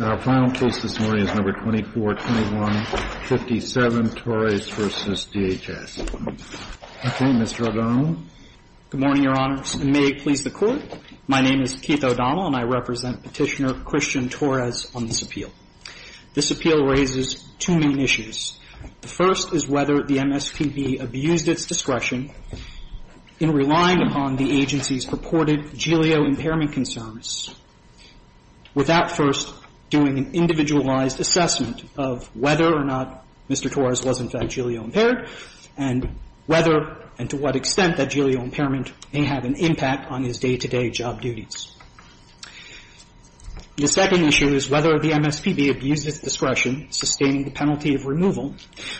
Our final case this morning is No. 2421-57, Torres v. DHS. Okay, Mr. O'Donnell. Good morning, Your Honors, and may it please the Court. My name is Keith O'Donnell, and I represent Petitioner Christian Torres on this appeal. This appeal raises two main issues. The first is whether the MSPB abused its discretion in relying upon the agency's purported jilio impairment concerns without first doing an individualized assessment of whether or not Mr. Torres was in fact jilio-impaired and whether and to what extent that jilio impairment may have an impact on his day-to-day job duties. The second issue is whether the MSPB abused its discretion sustaining the penalty of removal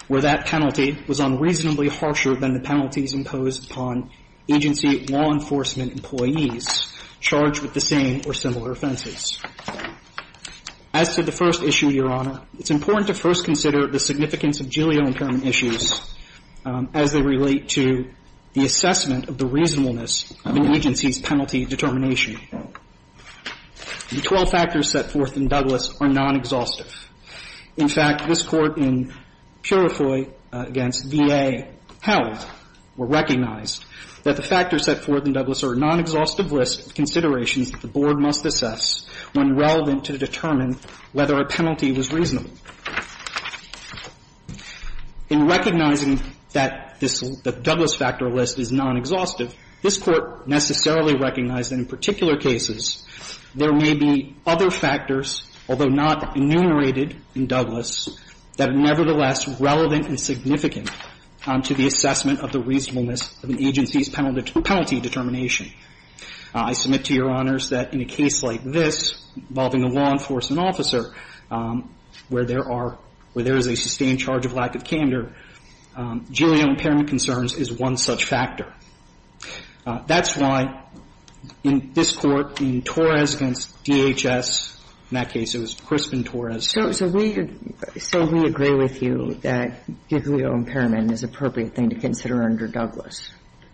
where that penalty was unreasonably harsher than the penalties imposed upon agency law enforcement employees charged with the same or similar offenses. As to the first issue, Your Honor, it's important to first consider the significance of jilio impairment issues as they relate to the assessment of the reasonableness of an agency's penalty determination. The 12 factors set forth in Douglas are non-exhaustive. In fact, this Court in Purifoy v. V.A. held or recognized that the factors set forth in Douglas are non-exhaustive risk considerations that the Board must assess when relevant to determine whether a penalty was reasonable. In recognizing that this Douglas factor list is non-exhaustive, this Court necessarily recognized that in particular cases there may be other factors, although not enumerated in Douglas, that are nevertheless relevant and significant to the assessment of the reasonableness of an agency's penalty determination. I submit to Your Honors that in a case like this involving a law enforcement officer where there are or there is a sustained charge of lack of candor, jilio impairment concerns is one such factor. That's why in this Court, in Torres v. DHS, in that case it was Crispin-Torres. So we say we agree with you that jilio impairment is an appropriate thing to consider under Douglas.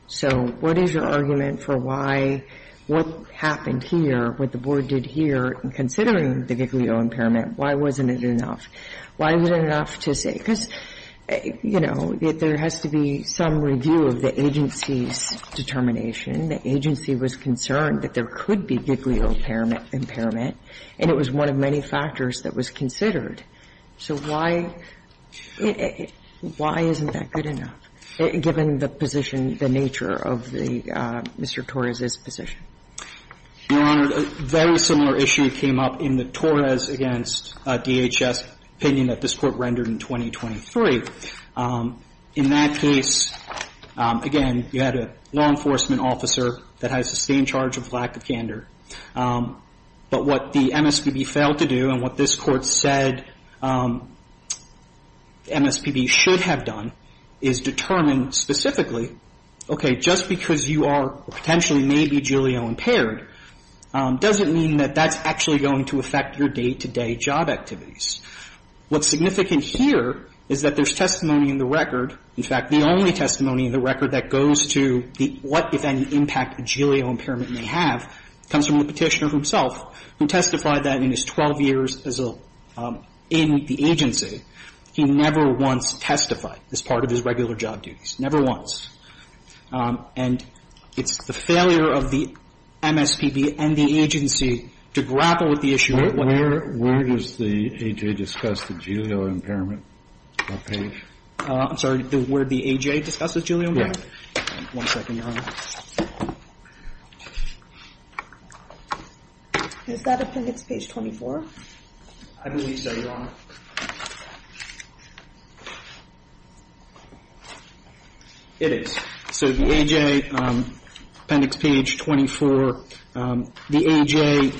So what is your argument for why what happened here, what the Board did here, considering the jilio impairment, why wasn't it enough? Why wasn't it enough to say? Because, you know, there has to be some review of the agency's determination. The agency was concerned that there could be jilio impairment, and it was one of many factors that was considered. So why isn't that good enough, given the position, the nature of the Mr. Torres' position? Your Honor, a very similar issue came up in the Torres v. DHS opinion that this Court rendered in 2023. In that case, again, you had a law enforcement officer that has a sustained charge of lack of candor. But what the MSPB failed to do and what this Court said MSPB should have done is determine specifically, okay, just because you are or potentially may be jilio impaired doesn't mean that that's actually going to affect your day-to-day job activities. What's significant here is that there's testimony in the record. In fact, the only testimony in the record that goes to the what, if any, impact a jilio impairment may have comes from the Petitioner himself, who testified that in his 12 years as a in the agency. He never once testified as part of his regular job duties, never once. And it's the So that's not the issue. Where does the A.J. discuss the jilio impairment on that page? I'm sorry. Where does the A.J. discuss the jilio impairment? Right. One second, Your Honor. Is that Appendix Page 24? I believe so, Your Honor. It is. So the A.J. Appendix Page 24, the A.J.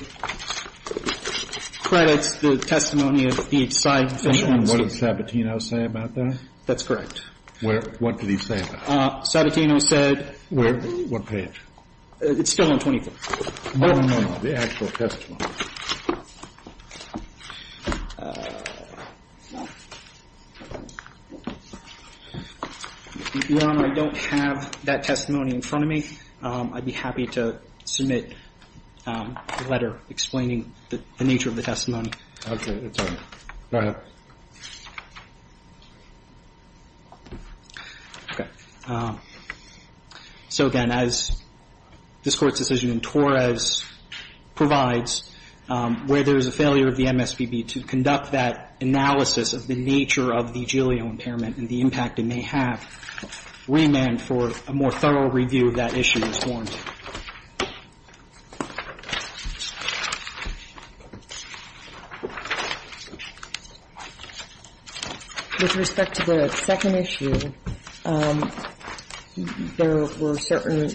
credits the testimony of B.H. Seidman. What did Sabatino say about that? That's correct. What did he say about it? Sabatino said What page? It's still on 24th. No, no, no. The actual testimony. Your Honor, I don't have that testimony in front of me. I'd be happy to submit a letter explaining the nature of the testimony. Okay. That's all right. Go ahead. Okay. So, again, as this Court's decision in Torres provides, where there is a failure of the MSPB to conduct that analysis of the nature of the jilio impairment and the impact it may have, remand for a more thorough review of that issue is warranted. With respect to the second issue, there were certain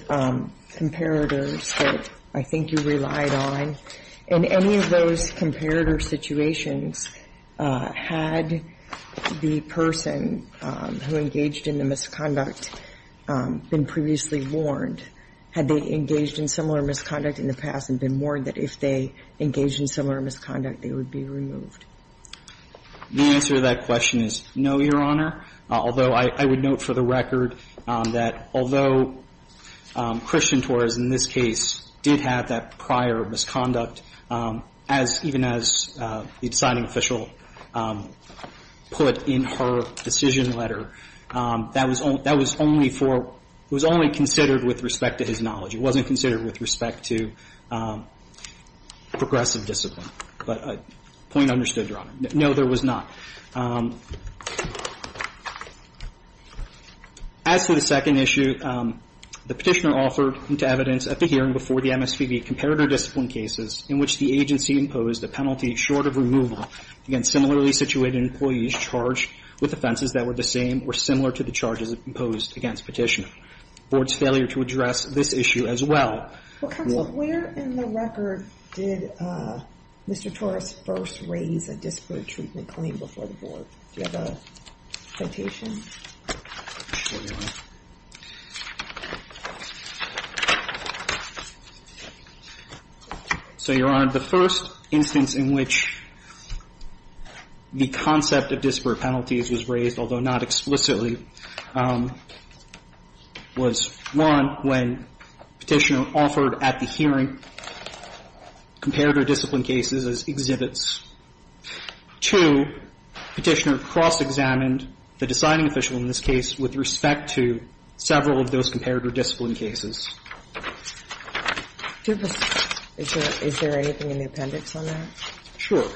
comparators that I think you relied on. In any of those comparator situations, had the person who engaged in the misconduct been previously warned? Had they engaged in similar misconduct in the past and been warned that if they engaged in similar misconduct, they would be removed? The answer to that question is no, Your Honor, although I would note for the record that although Christian Torres in this case did have that prior misconduct, as even as the deciding official put in her decision letter, that was only for, it was only considered with respect to his knowledge. It wasn't considered with respect to progressive discipline, but point understood, Your Honor. No, there was not. As to the second issue, the Petitioner offered into evidence at the hearing before the MSPB comparator discipline cases in which the agency imposed a penalty short of removal against similarly situated employees charged with offenses that were the same or similar to the charges imposed against Petitioner. And the board's failure to address this issue as well. Well, counsel, where in the record did Mr. Torres first raise a disparate treatment claim before the board? Do you have a quotation? Sure, Your Honor. So, Your Honor, the first instance in which the concept of disparate penalties was raised, although not explicitly, was, one, when Petitioner offered at the hearing comparator discipline cases as exhibits. Two, Petitioner cross-examined the deciding official in this case with respect to several of those comparator discipline cases. Is there anything in the appendix on that? Sure.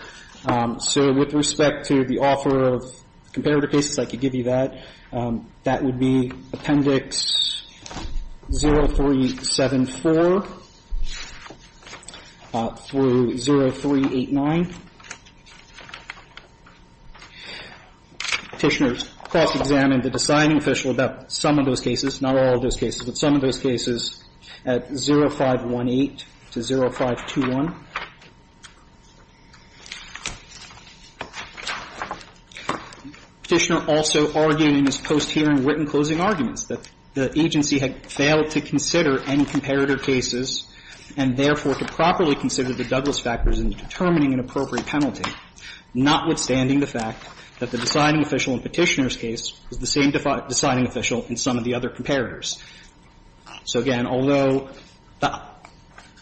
So with respect to the offer of comparator cases, I could give you that. That would be Appendix 0374 through 0389. Petitioner cross-examined the deciding official about some of those cases, not all of those cases, but some of those cases at 0518 to 0521. Petitioner also argued in his post-hearing written closing arguments that the agency had failed to consider any comparator cases and, therefore, to properly consider the Douglas factors in determining an appropriate penalty, notwithstanding the fact that the deciding official in Petitioner's case was the same deciding official in some of the other comparators. So, again, although the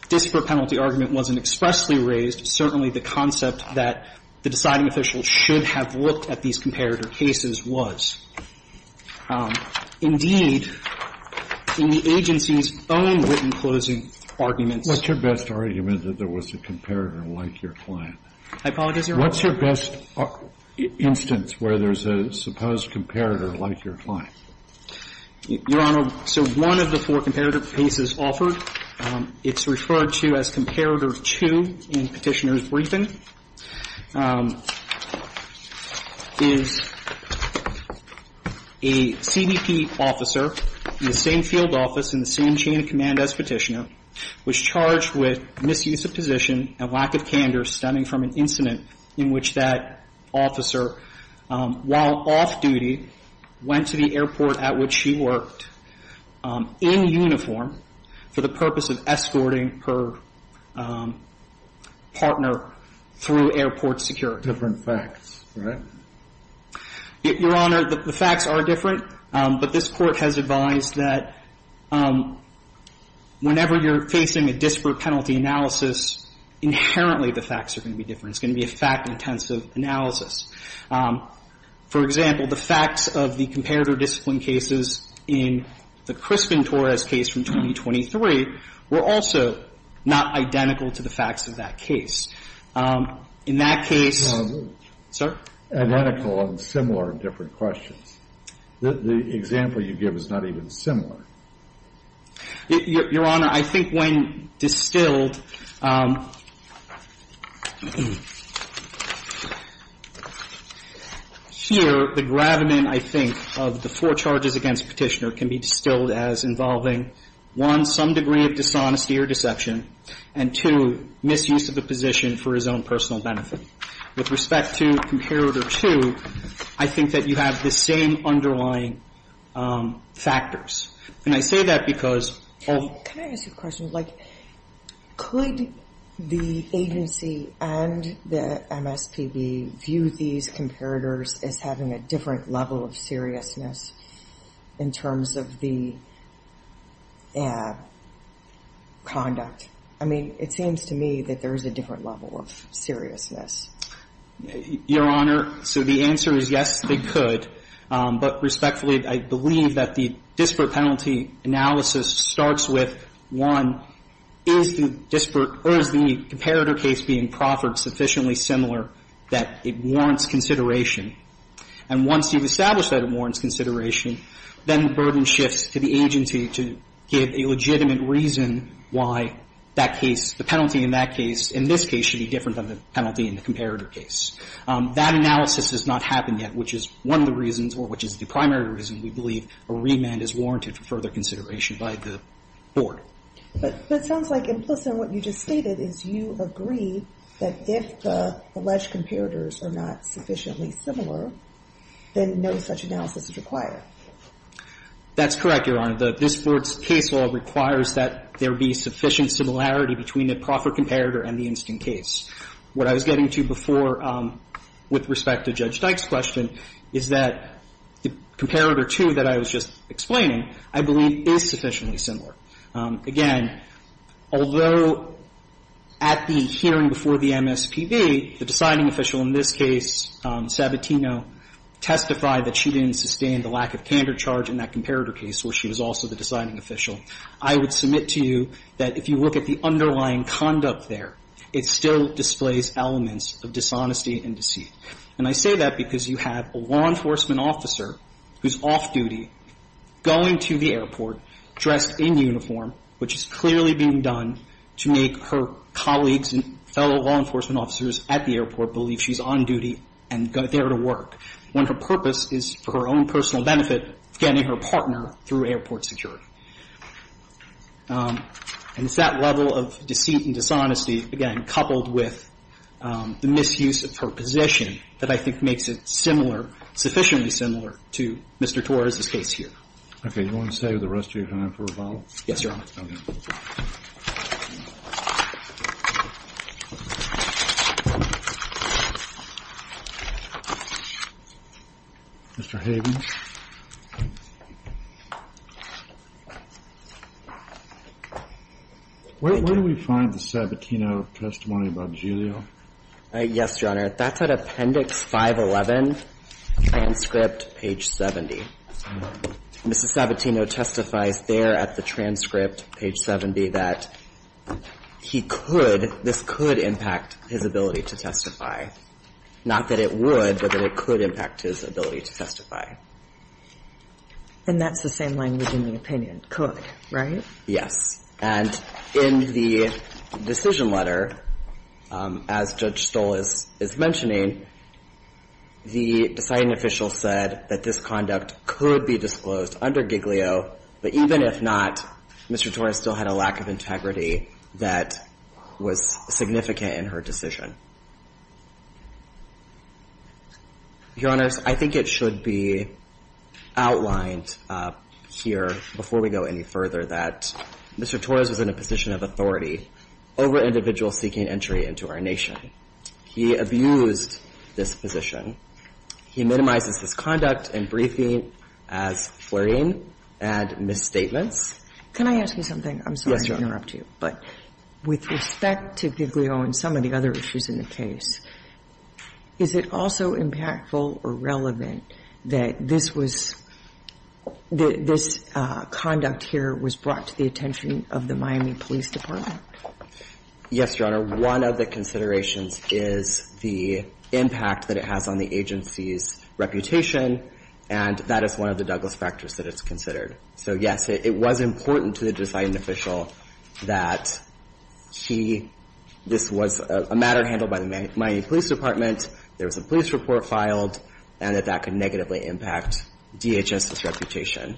dispropenity argument wasn't expressly raised, certainly the concept that the deciding official should have looked at these comparator cases was. Indeed, in the agency's own written closing arguments ---- What's your best argument that there was a comparator like your client? I apologize, Your Honor. What's your best instance where there's a supposed comparator like your client? Your Honor, so one of the four comparator cases offered, it's referred to as Comparator 2 in Petitioner's briefing, is a CBP officer in the same field office in the same chain of command as Petitioner was charged with misuse of position and lack of candor stemming from an incident in which that officer, while off-duty, went to the airport at which she worked in uniform for the purpose of escorting her partner through airport security. Different facts, right? Your Honor, the facts are different, but this Court has advised that whenever you're facing a dispropenity analysis, inherently the facts are going to be different. It's going to be a fact-intensive analysis. For example, the facts of the comparator discipline cases in the Crispin-Torres case from 2023 were also not identical to the facts of that case. In that case ---- Identical and similar in different questions. The example you give is not even similar. Your Honor, I think when distilled ---- Here, the gravamen, I think, of the four charges against Petitioner can be distilled as involving, one, some degree of dishonesty or deception, and, two, misuse of a position for his own personal benefit. With respect to Comparator 2, I think that you have the same underlying factors. And I say that because of ---- Can I ask you a question? Like, could the agency and the MSPB view these comparators as having a different level of seriousness in terms of the conduct? I mean, it seems to me that there is a different level of seriousness. Your Honor, so the answer is, yes, they could. But respectfully, I believe that the disparate penalty analysis starts with, one, is the disparate or is the comparator case being proffered sufficiently similar that it warrants consideration? And once you've established that it warrants consideration, then the burden shifts to the agency to give a legitimate reason why that case, the penalty in that case in this case should be different than the penalty in the comparator case. That analysis has not happened yet, which is one of the reasons, or which is the primary reason we believe a remand is warranted for further consideration by the Board. But it sounds like implicit in what you just stated is you agree that if the alleged comparators are not sufficiently similar, then no such analysis is required. That's correct, Your Honor. This Board's case law requires that there be sufficient similarity between the proffered comparator and the instant case. What I was getting to before with respect to Judge Dyke's question is that the comparator two that I was just explaining, I believe, is sufficiently similar. Again, although at the hearing before the MSPB, the deciding official in this case, Sabatino, testified that she didn't sustain the lack of candor charge in that comparator case where she was also the deciding official. I would submit to you that if you look at the underlying conduct there, it still displays elements of dishonesty and deceit. And I say that because you have a law enforcement officer who's off-duty, going to the airport, dressed in uniform, which is clearly being done to make her colleagues and fellow law enforcement officers at the airport believe she's on duty and there to work, when her purpose is for her own personal benefit of getting her partner through airport security. And it's that level of deceit and dishonesty, again, coupled with the misuse of her position that I think makes it similar, sufficiently similar to Mr. Torres's case here. Okay. You want to stay with the rest of your time for a while? Yes, Your Honor. Okay. Mr. Hayden. Where do we find the Sabatino testimony about Giulio? Yes, Your Honor. That's at Appendix 511, transcript page 70. Mr. Sabatino testifies there at the transcript, page 70, that he could, this could impact his ability to testify. Not that it would, but that it could impact his ability to testify. And that's the same language in the opinion, could, right? Yes. And in the decision letter, as Judge Stoll is mentioning, the deciding official said that this conduct could be disclosed under Giglio, but even if not, Mr. Torres still had a lack of integrity that was significant in her decision. Your Honors, I think it should be outlined here before we go any further that Mr. Torres was in a position of authority over individuals seeking entry into our nation. He abused this position. He minimizes this conduct and briefing as flirting and misstatements. Can I ask you something? Yes, Your Honor. I'm sorry to interrupt you, but with respect to Giglio and some of the other issues in the case, is it also impactful or relevant that this was, this conduct here was brought to the attention of the Miami Police Department? Yes, Your Honor. One of the considerations is the impact that it has on the agency's reputation, and that is one of the Douglas factors that it's considered. So, yes, it was important to the deciding official that he, this was a matter handled by the Miami Police Department, there was a police report filed, and that that could negatively impact DHS's reputation,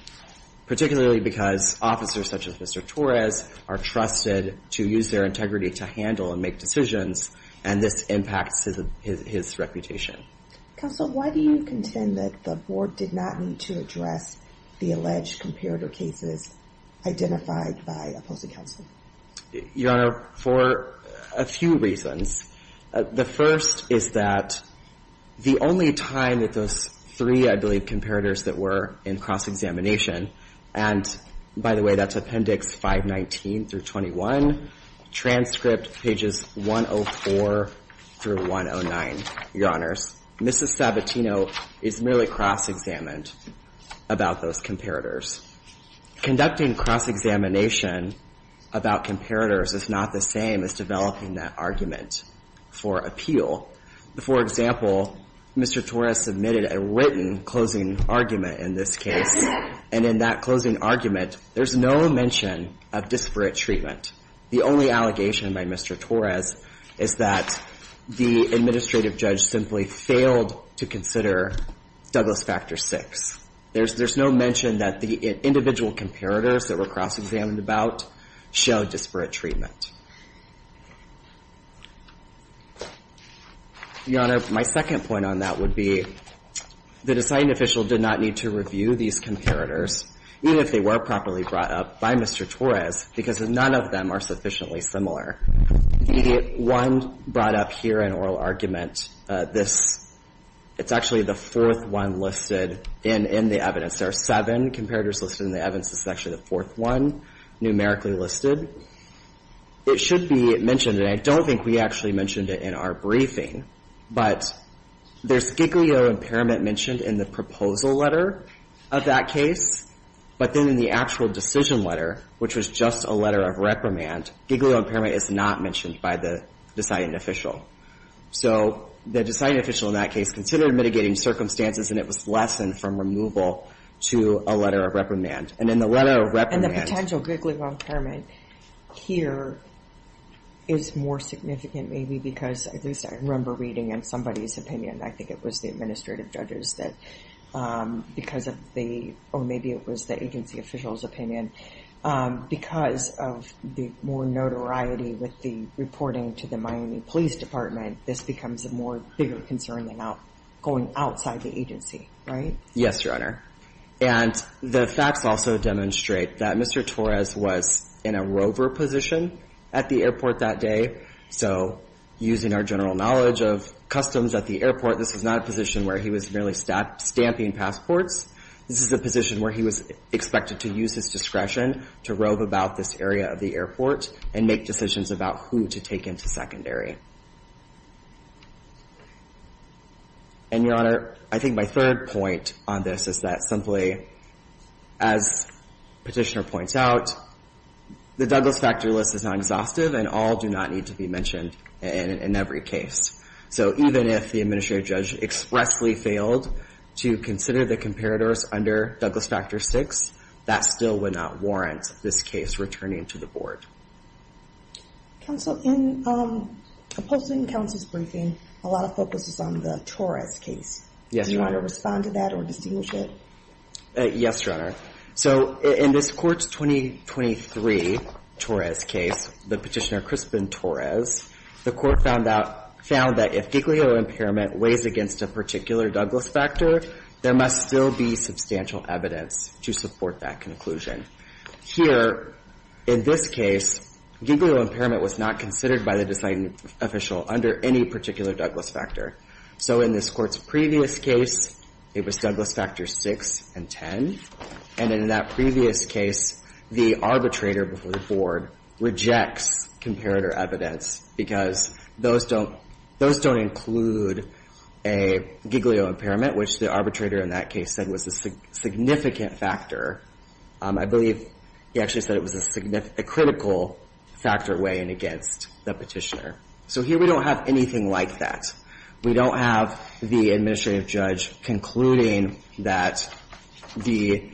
particularly because officers such as Mr. Torres are trusted to use their integrity to handle and make decisions, and this impacts his reputation. Counsel, why do you contend that the Board did not need to address the alleged comparator cases identified by opposing counsel? Your Honor, for a few reasons. The first is that the only time that those three, I believe, comparators that were in cross-examination, and by the way, that's Appendix 519 through 21, transcript pages 104 through 109, Your Honors. Mrs. Sabatino is merely cross-examined about those comparators. Conducting cross-examination about comparators is not the same as developing that argument for appeal. For example, Mr. Torres submitted a written closing argument in this case, and in that closing argument, there's no mention of disparate treatment. The only allegation by Mr. Torres is that the administrative judge simply failed to consider Douglas Factor VI. There's no mention that the individual comparators that were cross-examined about showed disparate treatment. Your Honor, my second point on that would be that a citing official did not need to review these comparators, even if they were properly brought up by Mr. Torres, because none of them are sufficiently similar. The one brought up here in oral argument, this, it's actually the fourth one listed in the evidence. There are seven comparators listed in the evidence. This is actually the fourth one numerically listed. It should be mentioned, and I don't think we actually mentioned it in our briefing, but there's giglio impairment mentioned in the proposal letter of that case, but then in the actual decision letter, which was just a letter of reprimand, giglio impairment is not mentioned by the deciding official. So, the deciding official in that case considered mitigating circumstances, and it was less than from removal to a letter of reprimand. And in the letter of reprimand- And the potential giglio impairment here is more significant, maybe, because, at least I remember reading in somebody's opinion, I think it was the administrative judges that, because of the, or maybe it was the agency official's opinion, because of the more notoriety with the reporting to the Miami Police Department, this becomes a more bigger concern than going outside the agency, right? Yes, Your Honor. And the facts also demonstrate that Mr. Torres was in a rover position at the airport that day. So, using our general knowledge of customs at the airport, this was not a position where he was merely stamping passports. This is a position where he was expected to use his discretion to rove about this area of the airport and make decisions about who to take into secondary. And, Your Honor, I think my third point on this is that, simply, as Petitioner points out, the Douglas Factor list is not exhaustive, and all do not need to be mentioned in every case. So, even if the administrative judge expressly failed to consider the comparators under Douglas Factor VI, that still would not warrant this case returning to the board. Counsel, in opposing counsel's briefing, a lot of focus is on the Torres case. Yes, Your Honor. Do you want to respond to that or distinguish it? Yes, Your Honor. So, in this Court's 2023 Torres case, the Petitioner Crispin Torres, the Court found that if GIGLIO impairment weighs against a particular Douglas Factor, there must still be substantial evidence to support that conclusion. Here, in this case, GIGLIO impairment was not considered by the deciding official under any particular Douglas Factor. So, in this Court's previous case, it was Douglas Factor VI and X. And in that previous case, the arbitrator before the board rejects comparator evidence because those don't include a GIGLIO impairment, which the arbitrator in that case said was a significant factor. I believe he actually said it was a critical factor weighing against the Petitioner. So, here we don't have anything like that. We don't have the administrative judge concluding that the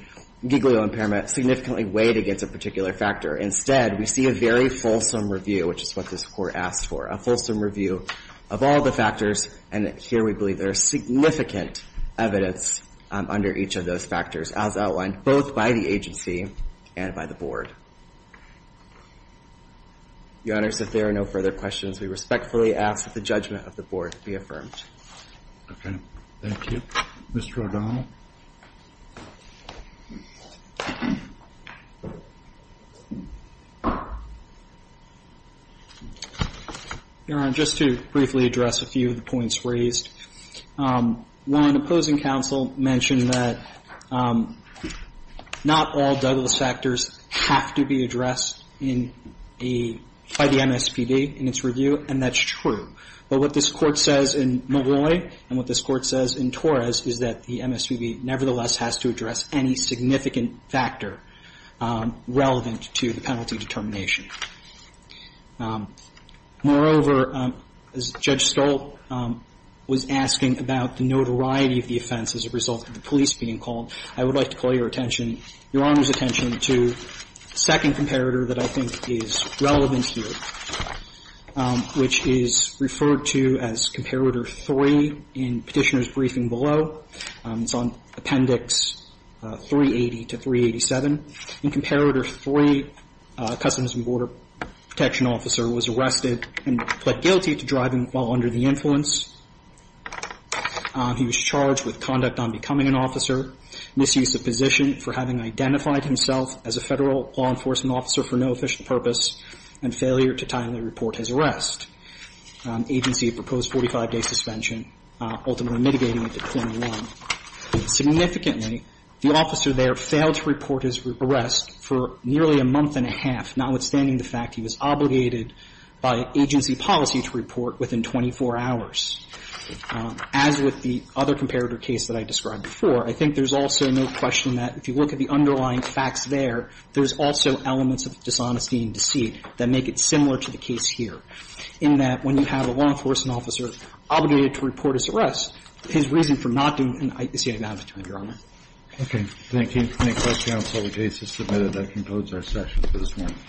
GIGLIO impairment significantly weighed against a particular factor. Instead, we see a very fulsome review, which is what this Court asked for, a fulsome review of all the factors. And here we believe there's significant evidence under each of those factors, as outlined both by the agency and by the board. Your Honors, if there are no further questions, we respectfully ask that the judgment of the board be affirmed. Okay. Thank you. Mr. O'Donnell. Your Honor, just to briefly address a few of the points raised. One opposing counsel mentioned that not all Douglas factors have to be addressed by the MSPB in its review, and that's true. But what this Court says in Malloy and what this Court says in Torres is that the MSPB nevertheless has to address any significant factor relevant to the penalty determination. Moreover, as Judge Stolt was asking about the notoriety of the offense as a result of the police being called, I would like to call your attention, Your Honor's attention to the second comparator that I think is relevant here, which is referred to as comparator three in Petitioner's briefing below. It's on Appendix 380 to 387. In comparator three, a Customs and Border Protection officer was arrested and pled guilty to driving while under the influence. He was charged with conduct non-becoming an officer, misuse of position for having identified himself as a federal law enforcement officer for no official purpose, and failure to timely report his arrest. Agency proposed 45-day suspension, ultimately mitigating it to 21. Significantly, the officer there failed to report his arrest for nearly a month and a half, notwithstanding the fact he was obligated by agency policy to report within 24 hours. As with the other comparator case that I described before, I think there's also no question that if you look at the underlying facts there, there's also elements of dishonesty and deceit that make it similar to the case here, in that when you have a federal law enforcement officer obligated to report his arrest, his reason for not doing it is he had an opportunity, Your Honor. Thank you. If there are any questions on the case that's submitted, that concludes our session for this morning.